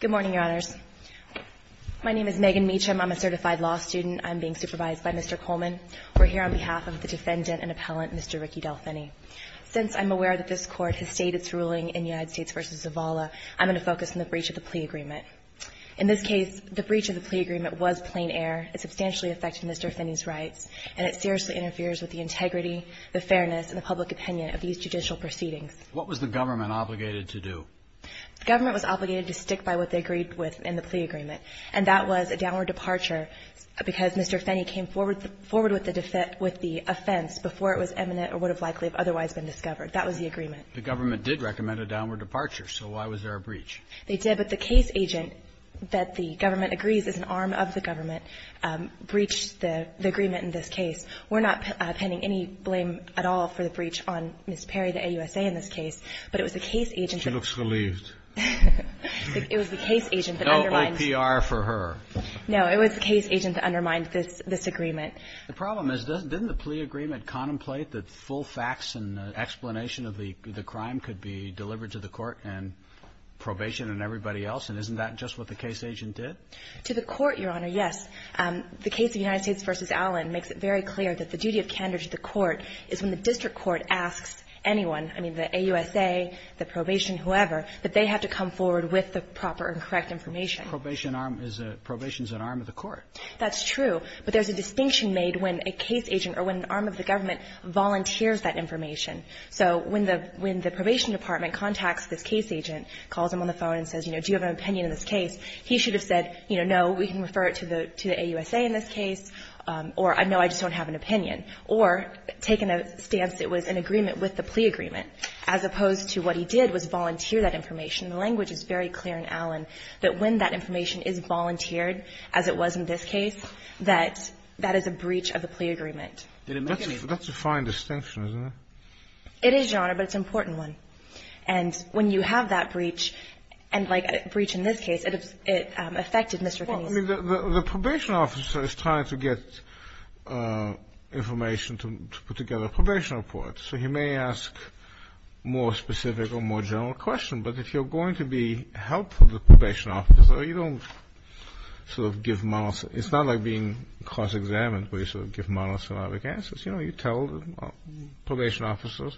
Good morning, Your Honors. My name is Megan Meacham. I'm a certified law student. I'm being supervised by Mr. Coleman. We're here on behalf of the defendant and appellant Mr. Ricky Del Fenney. Since I'm aware that this Court has stated its ruling in United States v. Zavala, I'm going to focus on the breach of the plea agreement. In this case, the breach of the plea agreement was plain air. It substantially affected Mr. Fenney's rights, and it seriously interferes with the integrity, the fairness, and the public opinion of these judicial proceedings. What was the government obligated to do? The government was obligated to stick by what they agreed with in the plea agreement, and that was a downward departure because Mr. Fenney came forward with the offense before it was eminent or would have likely otherwise been discovered. That was the agreement. The government did recommend a downward departure, so why was there a breach? They did, but the case agent that the government agrees is an arm of the government breached the agreement in this case. We're not pending any blame at all for the breach on Ms. Perry, the AUSA, in this case, but it was the case agent that undermined this agreement. She looks relieved. It was the case agent that undermined No APR for her. No, it was the case agent that undermined this agreement. The problem is, didn't the plea agreement contemplate that full facts and explanation of the crime could be delivered to the Court and probation and everybody else, and isn't that just what the case agent did? To the Court, Your Honor, yes. The case of United States v. Allen makes it very clear that the duty of candor to the Court is when the district court asks anyone, I mean, the AUSA, the probation, whoever, that they have to come forward with the proper and correct information. Probation is an arm of the Court. That's true, but there's a distinction made when a case agent or when an arm of the government volunteers that information. So when the probation department contacts this case agent, calls him on the phone and says, you know, do you have an opinion in this case, he should have said, you know, no, we can refer it to the AUSA in this opinion, or taken a stance it was an agreement with the plea agreement, as opposed to what he did was volunteer that information. The language is very clear in Allen that when that information is volunteered, as it was in this case, that that is a breach of the plea agreement. That's a fine distinction, isn't it? It is, Your Honor, but it's an important one. And when you have that breach, and like a breach in this case, it affected Mr. Kenney's case. Well, I mean, the probation officer is trying to get information to put together a probation report, so he may ask more specific or more general questions, but if you're going to be helpful to the probation officer, you don't sort of give monosyllabic answers. It's not like being cross-examined where you sort of give monosyllabic answers. You know, you tell the probation officers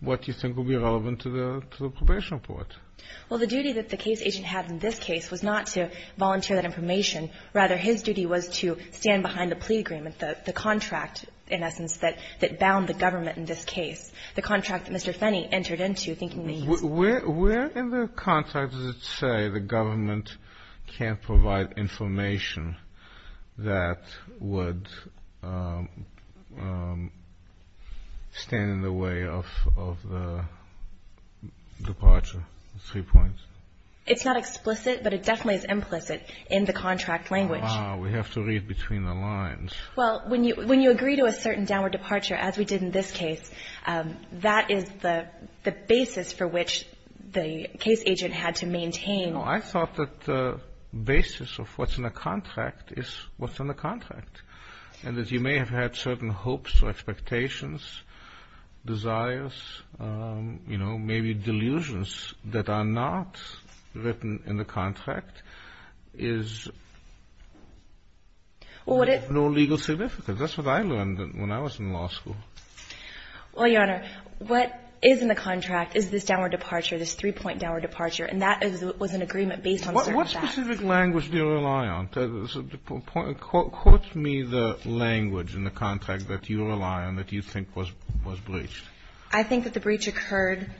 what you think will be relevant to the probation report. Well, the duty that the case agent had in this case was not to volunteer that information. Rather, his duty was to stand behind the plea agreement, the contract, in essence, that bound the government in this case, the contract that Mr. Fenney entered into, thinking that he was... Where in the contract does it say the government can't provide information that would stand in the way of the departure? It's not explicit, but it definitely is implicit in the contract language. We have to read between the lines. Well, when you agree to a certain downward departure, as we did in this case, that is the basis for which the case agent had to maintain... I thought that the basis of what's in the contract is what's in the contract, and that you may have had certain hopes or expectations, desires, you know, maybe delusions that are not written in the contract is of no legal significance. That's what I learned when I was in law school. Well, Your Honor, what is in the contract is this downward departure, this three-point downward departure, and that was an agreement based on certain facts. What specific language do you rely on? Quote me the language in the contract that you rely on that you think was breached. I think that the breach occurred.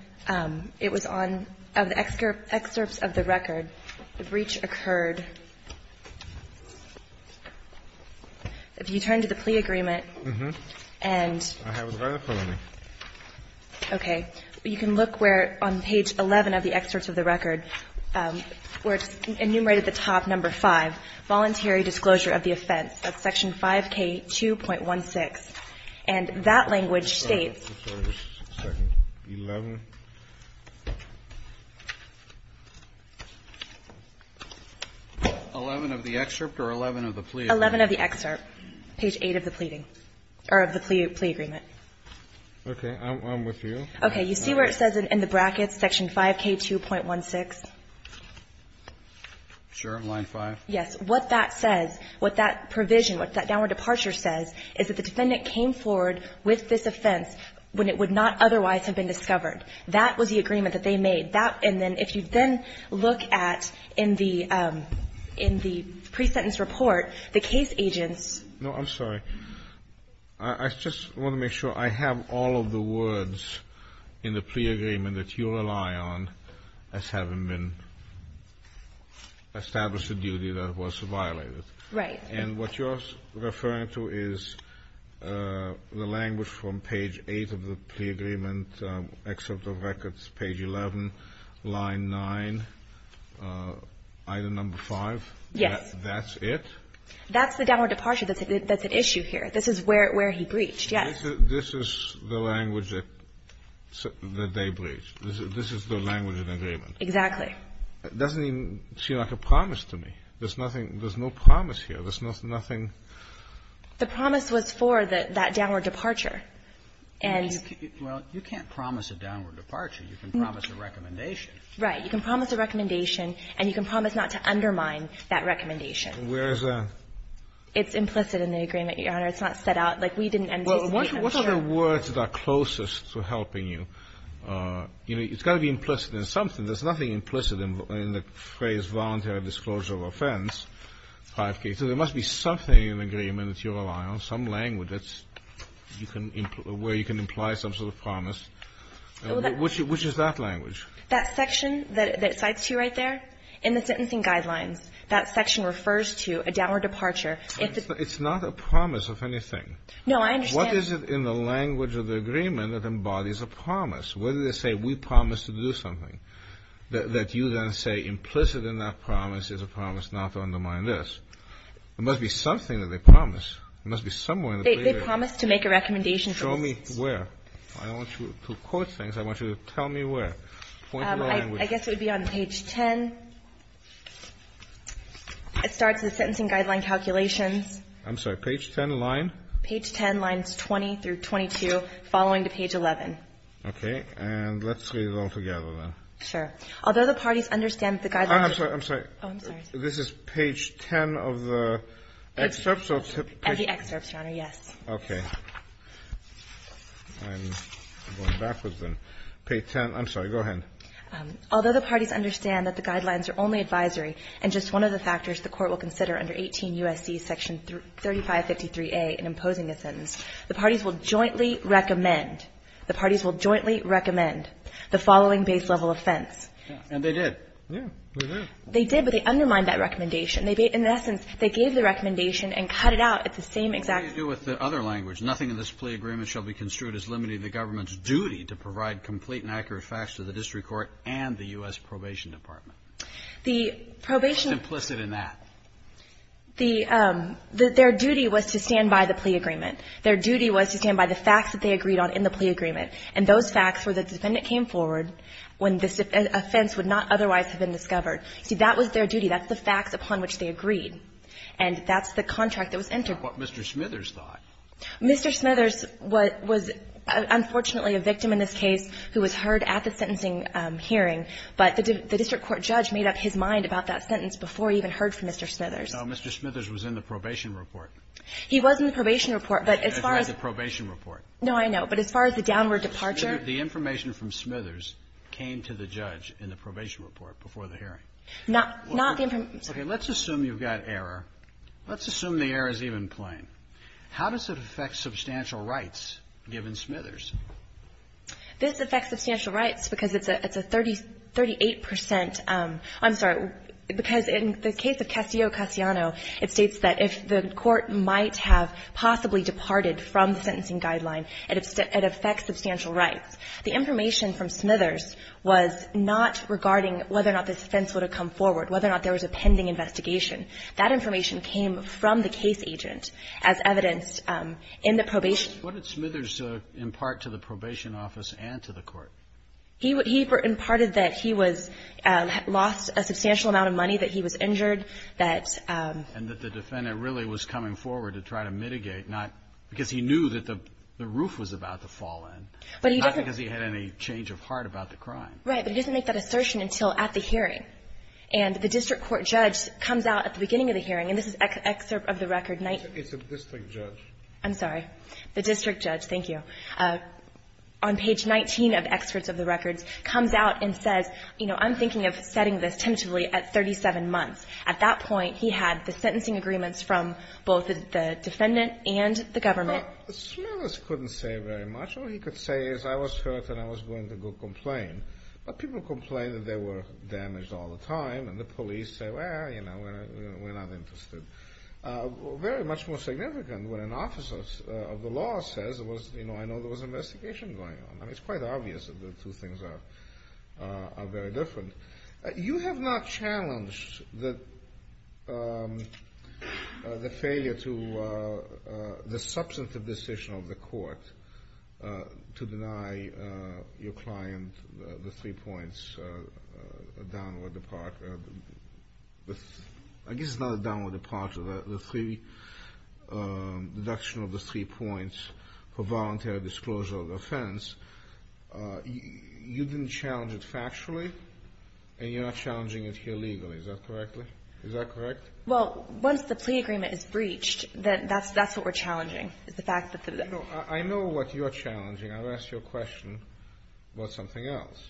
It was on the excerpts of the record. The breach occurred. If you turn to the plea agreement, and... I have it right in front of me. Okay. You can look where on page 11 of the excerpts of the record where it's enumerated the top number 5, voluntary disclosure of the offense. That's section 5K2.16, and that language states... 11 of the excerpt or 11 of the plea agreement? 11 of the excerpt. Page 8 of the pleading, or of the plea agreement. Okay. I'm with you. Okay. You see where it says in the brackets section 5K2.16? Sure. Line 5. Yes. What that says, what that provision, what that downward departure says is that the defendant came forward with this offense when it would not otherwise have been discovered. That was the agreement that they made. That, and then if you then look at in the pre-sentence report, the case agents... No, I'm sorry. I just want to make sure I have all of the words in the plea agreement that you rely on as having been established a duty that was violated. Right. And what you're referring to is the language from page 8 of the plea agreement, excerpt of records, page 11, line 9, item number 5? Yes. That's it? That's the downward departure that's at issue here. This is where he breached, yes. This is the language that they breached. This is the language of the agreement. Exactly. It doesn't even seem like a promise to me. There's nothing, there's no promise here. There's nothing... The promise was for that downward departure and... Well, you can't promise a downward departure. You can promise a recommendation. Right. You can promise a recommendation and you can promise not to undermine that recommendation. Where is that? It's implicit in the agreement, Your Honor. It's not set out. Like, we didn't anticipate... What are the words that are closest to helping you? You know, it's got to be implicit in something. There's nothing implicit in the phrase, voluntary disclosure of offense, 5K. So there must be something in the agreement that you rely on, some language that's where you can imply some sort of promise. Which is that language? That section that it cites to you right there, in the sentencing guidelines, that section refers to a downward departure. It's not a promise of anything. No, I understand. What is it in the language of the agreement that embodies a promise to do something that you then say implicit in that promise is a promise not to undermine this? There must be something that they promise. There must be somewhere... They promise to make a recommendation... Show me where. I want you to quote things. I want you to tell me where. I guess it would be on page 10. It starts with sentencing guideline calculations. I'm sorry. Page 10, line? Page 10, lines 20 through 22, following to page 11. Okay. And let's read it all together then. Sure. Although the parties understand that the guidelines... I'm sorry, I'm sorry. Oh, I'm sorry. This is page 10 of the excerpts? Of the excerpts, Your Honor, yes. Okay. I'm going backwards then. Page 10. I'm sorry. Go ahead. Although the parties understand that the guidelines are only advisory and just one of the factors the Court will consider under 18 U.S.C. section 3553A in imposing a sentence, the parties will jointly recommend, the parties will jointly recommend the following base level offense. And they did. Yeah, they did. They did, but they undermined that recommendation. In essence, they gave the recommendation and cut it out at the same exact... What do you do with the other language? Nothing in this plea agreement shall be construed as limiting the government's duty to provide complete and accurate facts to the District Court and the U.S. Probation Department. The probation... It's implicit in that. Their duty was to stand by the plea agreement. Their duty was to stand by the facts that they agreed on in the plea agreement. And those facts were that the defendant came forward when this offense would not otherwise have been discovered. See, that was their duty. That's the facts upon which they agreed. And that's the contract that was entered. What Mr. Smithers thought. Mr. Smithers was unfortunately a victim in this case who was heard at the sentencing hearing, but the District Court judge made up his mind about that sentence before he even heard from Mr. Smithers. No, Mr. Smithers was in the probation report. No, I know. But as far as the downward departure... The information from Smithers came to the judge in the probation report before the hearing. Not the... Okay, let's assume you've got error. Let's assume the error is even playing. How does it affect substantial rights given Smithers? This affects substantial rights because it's a 38 percent... I'm sorry. Because in the case of Castillo-Castellano, it states that if the court might have possibly departed from the sentencing guideline, it affects substantial rights. The information from Smithers was not regarding whether or not this offense would have come forward, whether or not there was a pending investigation. That information came from the case agent as evidenced in the probation... What did Smithers impart to the probation office and to the court? He imparted that he was lost a substantial amount of money, that he was injured, that... And that the defendant really was coming forward to try to mitigate, not... Because he knew that the roof was about to fall in. But he doesn't... Not because he had any change of heart about the crime. Right, but he doesn't make that assertion until at the hearing. And the district court judge comes out at the beginning of the hearing, and this is excerpt of the record... It's a district judge. I'm sorry. The district judge. Thank you. On page 19 of excerpts of the records, comes out and says, you know, I'm thinking of setting this tentatively at 37 months. At that point, he had the sentencing agreements from both the defendant and the government. But Smithers couldn't say very much. All he could say is, I was hurt and I was going to go complain. But people complain that they were damaged all the time, and the police say, well, you know, we're not interested. Very much more significant, when an officer of the law says, you know, I know there was an investigation going on. I mean, it's quite obvious that the two things are very different. You have not challenged the failure to... the substantive decision of the court to deny your client the three points downward departure... I guess it's not a downward departure, the three... deduction of the three points for voluntary disclosure of offense. You didn't challenge it factually, and you're not challenging it here legally. Is that correct? Well, once the plea agreement is breached, that's what we're challenging. I know what you're challenging. I'll ask you a question about something else.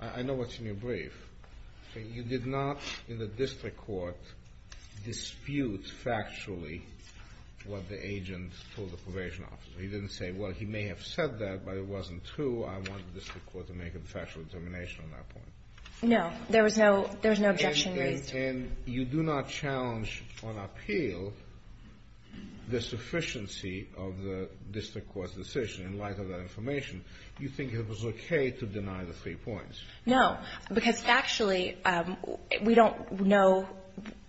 I know what's in your brief. You did not, in the district court, dispute factually what the agent told the probation officer. He didn't say that, but it wasn't true. I want the district court to make a factual determination on that point. No. There was no objection raised. And you do not challenge on appeal the sufficiency of the district court's decision in light of that information. You think it was okay to deny the three points. No. Because factually, we don't know.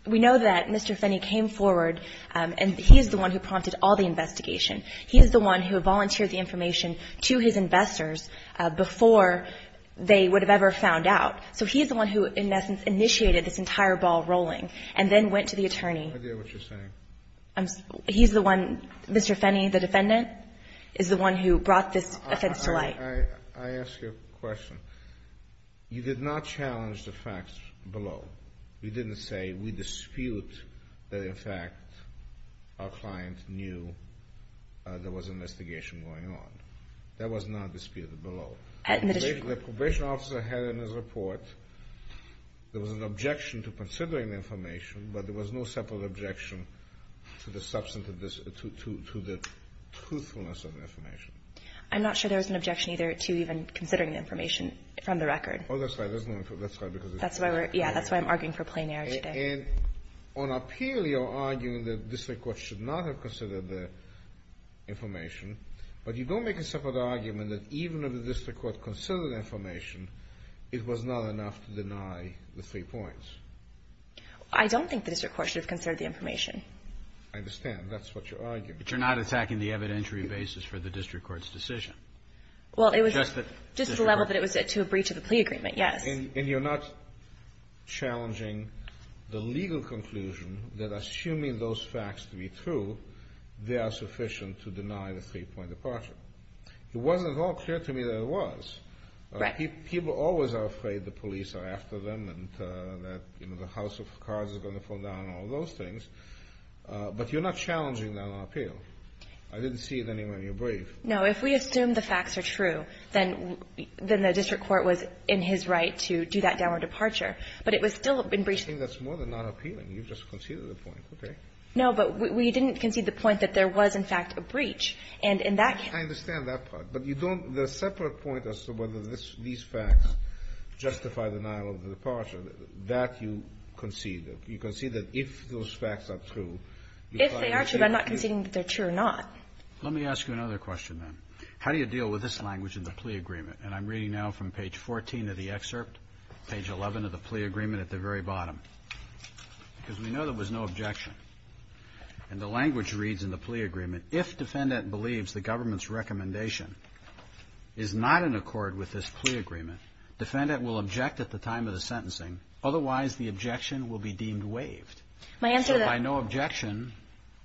We know that Mr. Fenney came forward, and he's the one who prompted all the investigation. He's the one who volunteered the information to his investors before they would have ever found out. So he's the one who, in essence, initiated this entire ball rolling, and then went to the attorney. I have no idea what you're saying. He's the one. Mr. Fenney, the defendant, is the one who brought this offense to light. I ask you a question. You did not challenge the facts below. You didn't say we dispute that, in fact, our client knew there was an investigation going on. That was not disputed below. The probation officer had in his report, there was an objection to considering the information, but there was no separate objection to the truthfulness of the information. I'm not sure there was an objection either to even considering the information from the record. Oh, that's right. That's why I'm arguing for plain air today. And on appeal, you're arguing that the district court should not have considered the information, but you don't make a separate argument that even if the district court considered the information, it was not enough to deny the three points. I don't think the district court should have considered the information. I understand. That's what you're arguing. But you're not attacking the evidentiary basis for the district court's decision. Just to the level that it was to a breach of the plea agreement, yes. And you're not challenging the legal conclusion that assuming those facts to be true, they are sufficient to deny the three-point departure. It wasn't at all clear to me that it was. People always are afraid the police are after them and that the house of cards is going to fall down and all those things. But you're not challenging that on appeal. I didn't see it anywhere in your brief. No, if we assume the facts are true, then the district court was in his right to do that downward departure. But it was still a breach. I think that's more than not appealing. You just conceded the point. No, but we didn't concede the point that there was, in fact, a breach. I understand that part. But you don't the separate point as to whether these facts justify denial of the departure, that you conceded. You conceded that if those facts are true. If they are true, but I'm not conceding that they're true or not. Let me ask you another question, then. How do you deal with this language in the plea agreement? And I'm reading now from page 14 of the excerpt, page 11 of the plea agreement at the very bottom. Because we know there was no objection. And the language reads in the plea agreement, if defendant believes the government's recommendation is not in accord with this plea agreement, defendant will object at the time of the sentencing. Otherwise, the objection will be deemed waived. So by no objection,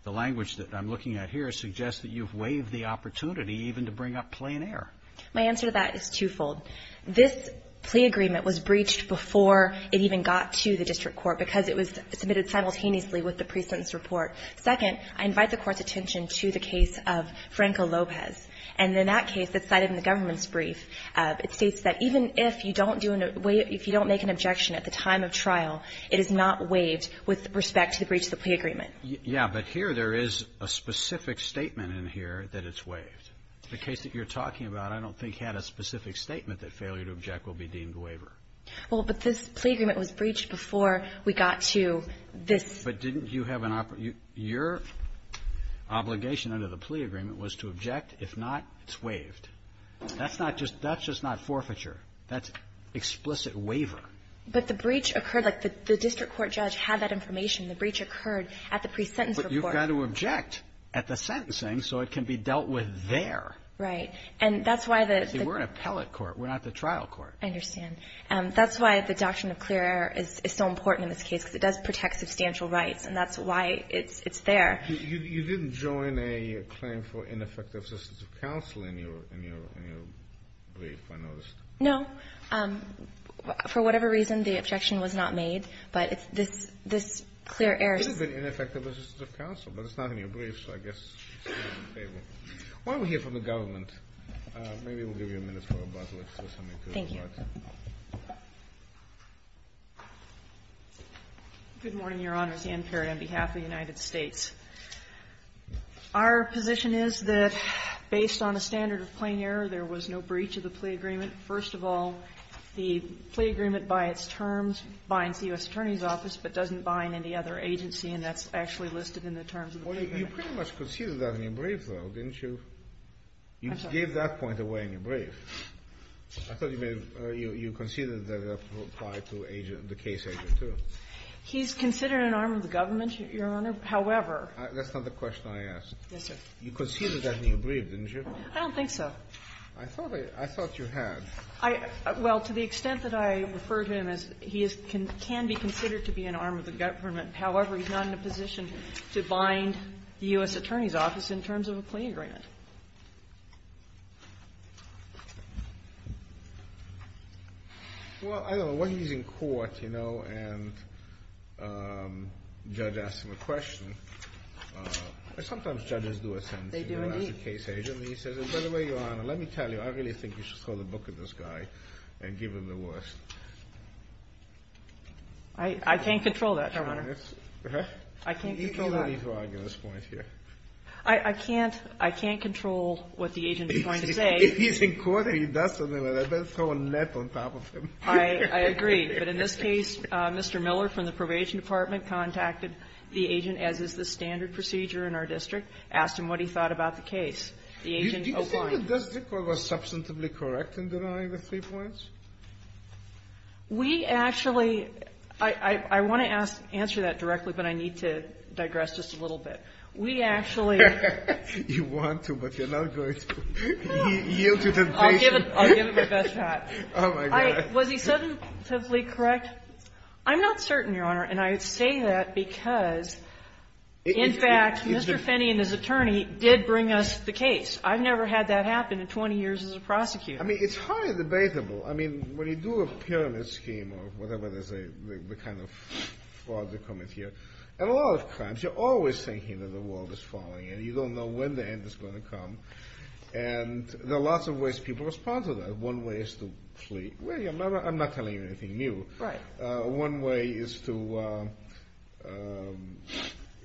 the language that I'm looking at here suggests that you've waived the opportunity even to bring up plain air. My answer to that is twofold. This plea agreement was breached before it even got to the district court, because it was submitted simultaneously with the pre-sentence report. Second, I invite the Court's attention to the case of Franco Lopez. And in that case that's cited in the government's brief, it states that even if you don't make an objection at the time of trial, it is not waived with respect to the breach of the plea agreement. Yeah, but here there is a specific statement in here that it's waived. The case that you're talking about I don't think had a specific statement that failure to object will be deemed waiver. Well, but this plea agreement was breached before we got to this. But didn't you have an, your obligation under the plea agreement was to object. If not, it's waived. That's not just, that's just not forfeiture. That's explicit waiver. But the breach occurred, like the district court judge had said information, the breach occurred at the pre-sentence report. But you've got to object at the sentencing so it can be dealt with there. Right. And that's why the We're an appellate court. We're not the trial court. I understand. That's why the doctrine of clear error is so important in this case, because it does protect substantial rights. And that's why it's there. You didn't join a claim for ineffective assistance of counsel in your brief, I noticed. No. For whatever reason, the objection was not made. But it's this, this clear error. This has been ineffective assistance of counsel, but it's not in your brief, so I guess it's in your favor. Why don't we hear from the government? Maybe we'll give you a minute for a buzzword or something. Thank you. Good morning, Your Honors. Ann Parrott on behalf of the United States. Our position is that based on a standard of plain error, there was no breach of the plea agreement. First of all, the plea agreement, by its terms, binds the U.S. Attorney's Office, but doesn't bind any other agency, and that's actually listed in the terms of the plea agreement. Well, you pretty much conceded that in your brief, though, didn't you? I'm sorry. You gave that point away in your brief. I thought you may have, you conceded that it applied to the case agent, too. He's considered an arm of the government, Your Honor, however. That's not the question I asked. Yes, sir. You conceded that in your brief, didn't you? I don't think so. I thought you had. Well, to the extent that I refer to him as he can be considered to be an arm of the government, however, he's not in a position to bind the U.S. Attorney's Office in terms of a plea agreement. Well, I don't know. When he's in court, you know, and the judge asks him a question, sometimes judges do a sentence in the last case agent. And he says, by the way, Your Honor, let me tell you, I really think you should throw the book at this guy and give him the worst. I can't control that, Your Honor. I can't control that. I can't control what the agent is going to say. If he's in court and he does something like that, I'd better throw a net on top of him. I agree. But in this case, Mr. Miller from the Probation Department contacted the agent, as is the standard procedure in our district, asked him what he thought about the case. The agent opined. Do you think the district court was substantively correct in denying the three points? We actually, I want to answer that directly, but I need to digress just a little bit. We actually You want to, but you're not going to. I'll give it my best shot. Was he substantively correct? I'm not certain, Your Honor. And I say that because In fact, Mr. Finney and his attorney did bring us the case. I've never had that happen in 20 years as a prosecutor. I mean, it's highly debatable. I mean, when you do a pyramid scheme or whatever they say, the kind of fraud that comes here, and a lot of times, you're always thinking that the world is falling, and you don't know when the end is going to come, and there are lots of ways people respond to that. One way is to flee. I'm not telling you anything new. Right. One way is to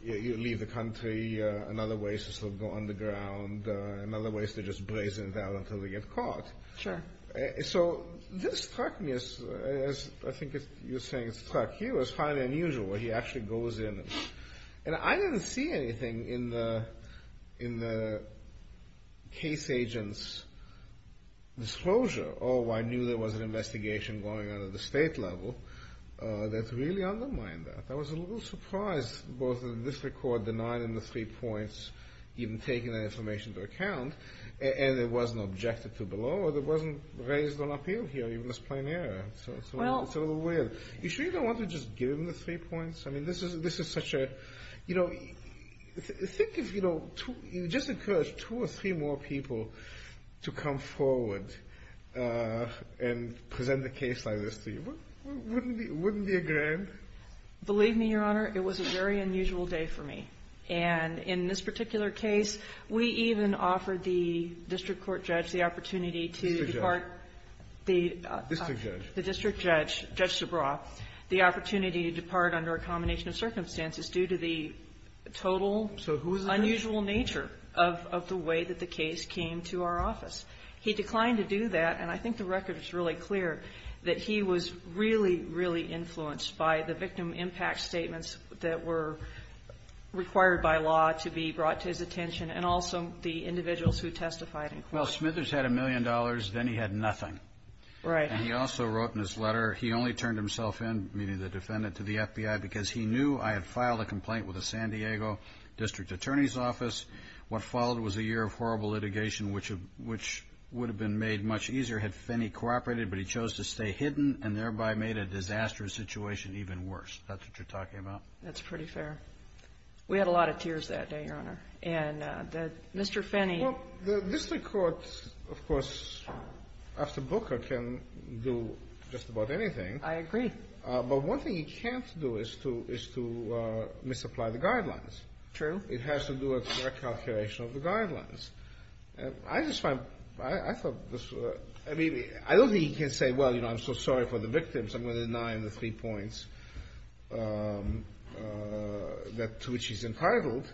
leave the country. Another way is to sort of go underground. Another way is to just brazen it out until they get caught. Sure. So this struck me as I think you're saying it struck you as highly unusual, where he actually goes in and I didn't see anything in the case agent's disclosure. Oh, I knew there was an investigation going on at the state level. That really undermined that. I was a little surprised both in this record, the nine and the three points, even taking that information into account, and it wasn't objected to below, and it wasn't raised on appeal here, even as plain error. So it's a little weird. You sure you don't want to just give him the three points? Think if you just encourage two or three more people to come forward and present a case like this to you, wouldn't it be a grand? Believe me, Your Honor, it was a very unusual day for me. And in this particular case, we even offered the district court judge the opportunity to depart. District judge. The district judge, Judge Zabraw, the opportunity to depart under a combination of circumstances due to the total unusual nature of the way that the case came to our office. He declined to do that, and I think the record is really clear that he was really, really influenced by the victim impact statements that were required by law to be brought to his attention, and also the individuals who testified in court. Well, Smithers had a million dollars, then he had nothing. Right. And he also wrote in his letter, he only turned himself in, meaning the defendant, to the FBI because he knew I had filed a complaint with the San Diego District Attorney's Office. What followed was a year of horrible litigation, which would have been made much easier had Fenney cooperated, but he chose to stay hidden, and thereby made a disastrous situation even worse. That's what you're talking about? That's pretty fair. We had a lot of tears that day, Your Honor. And Mr. Fenney... Well, the district court, of course, after Booker can do just about anything. I agree. But one thing he can't do is to misapply the guidelines. True. It has to do with fair calculation of the I mean, I don't think he can say, well, I'm so sorry for the victims, I'm going to deny him the three points to which he's entitled,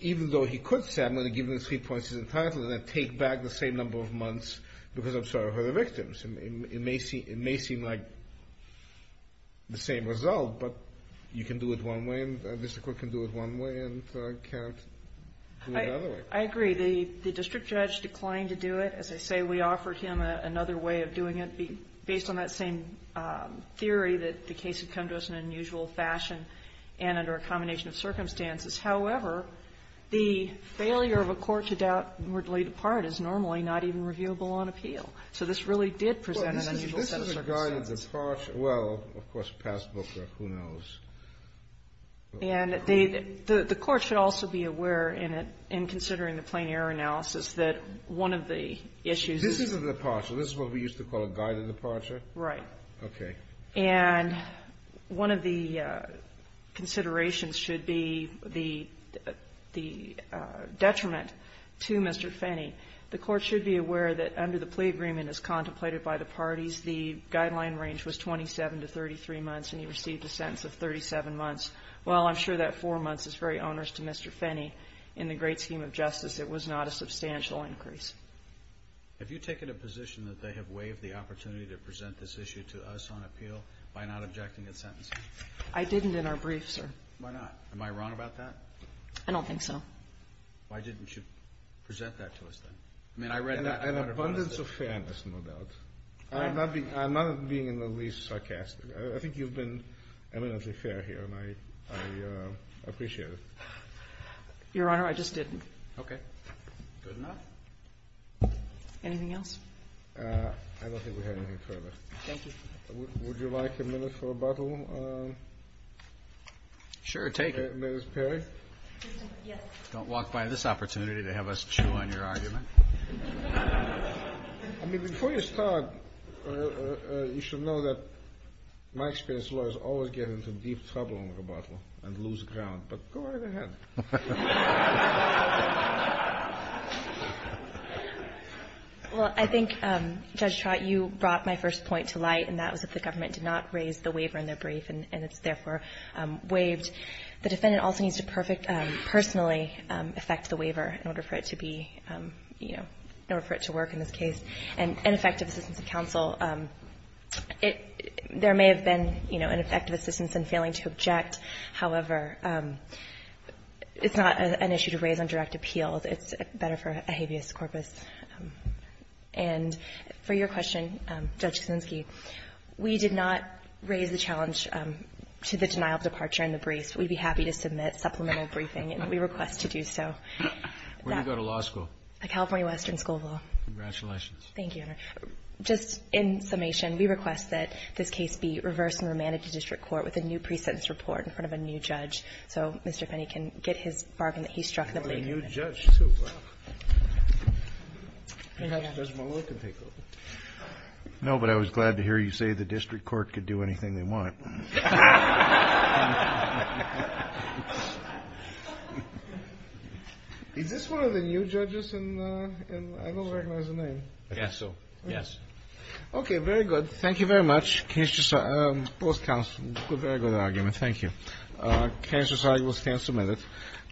even though he could say, I'm going to give him the three points he's entitled, and then take back the same number of months because I'm sorry for the victims. It may seem like the same result, but you can do it one way, and the district court can do it one way, and I can't do it another way. I agree. The district judge declined to do it. As I say, we offered him another way of doing it, based on that same theory that the case had come to us in an unusual fashion and under a combination of circumstances. However, the failure of a court to doubt and were to lay it apart is normally not even reviewable on appeal. So this really did present an unusual set of circumstances. Well, this is a guided departure. Well, of course, past Booker, who knows? And the court should also be aware in considering the plain error analysis that one of the issues is... This isn't a departure. This is what we used to call a guided departure? Right. Okay. And one of the considerations should be the detriment to Mr. Fenney. The court should be aware that under the plea agreement as contemplated by the parties, the guideline range was 27 to 33 months, and he received a sentence of 37 months. Well, I'm sure that four months is very onerous to Mr. Fenney. In the great scheme of justice, it was not a substantial increase. Have you taken a position that they have waived the opportunity to present this issue to us on appeal by not objecting its sentencing? I didn't in our brief, sir. Why not? Am I wrong about that? I don't think so. Why didn't you present that to us then? An abundance of fairness, no doubt. I'm not being in the least sarcastic. I think you've been eminently fair here, and I appreciate it. Your Honor, I just didn't. Okay. Good enough? Anything else? I don't think we have anything further. Thank you. Would you like a minute for rebuttal? Sure, take it. Ms. Perry? Yes. Don't walk by this opportunity to have us chew on your argument. I mean, before you start, you should know that my experience, lawyers always get into deep trouble on rebuttal and lose ground. But go right ahead. Well, I think, Judge Trott, you brought my first point to light, and that was that the government did not raise the waiver in their brief and it's therefore waived. The defendant also needs to personally effect the waiver in order for it to be, you know, in order for it to work in this case. And effective assistance of counsel. There may have been, you know, an effective assistance in failing to object. However, it's not an issue to raise on direct appeal. It's better for a habeas corpus. And for your question, Judge Kuczynski, we did not raise the challenge to the denial of departure in the briefs. We'd be happy to submit supplemental briefing, and we request to do so. Where do you go to law school? The California Western School of Law. Congratulations. Thank you, Your Honor. Just in summation, we request that this case be reversed and remanded to district court with a new pre-sentence report in front of a new judge so Mr. Penny can get his bargain that he struck the blame. Perhaps Judge Malone can take over. No, but I was glad to hear you say the district court could do anything they want. Is this one of the new judges in the I don't recognize the name. I guess so. Okay, very good. Thank you very much. Thank you.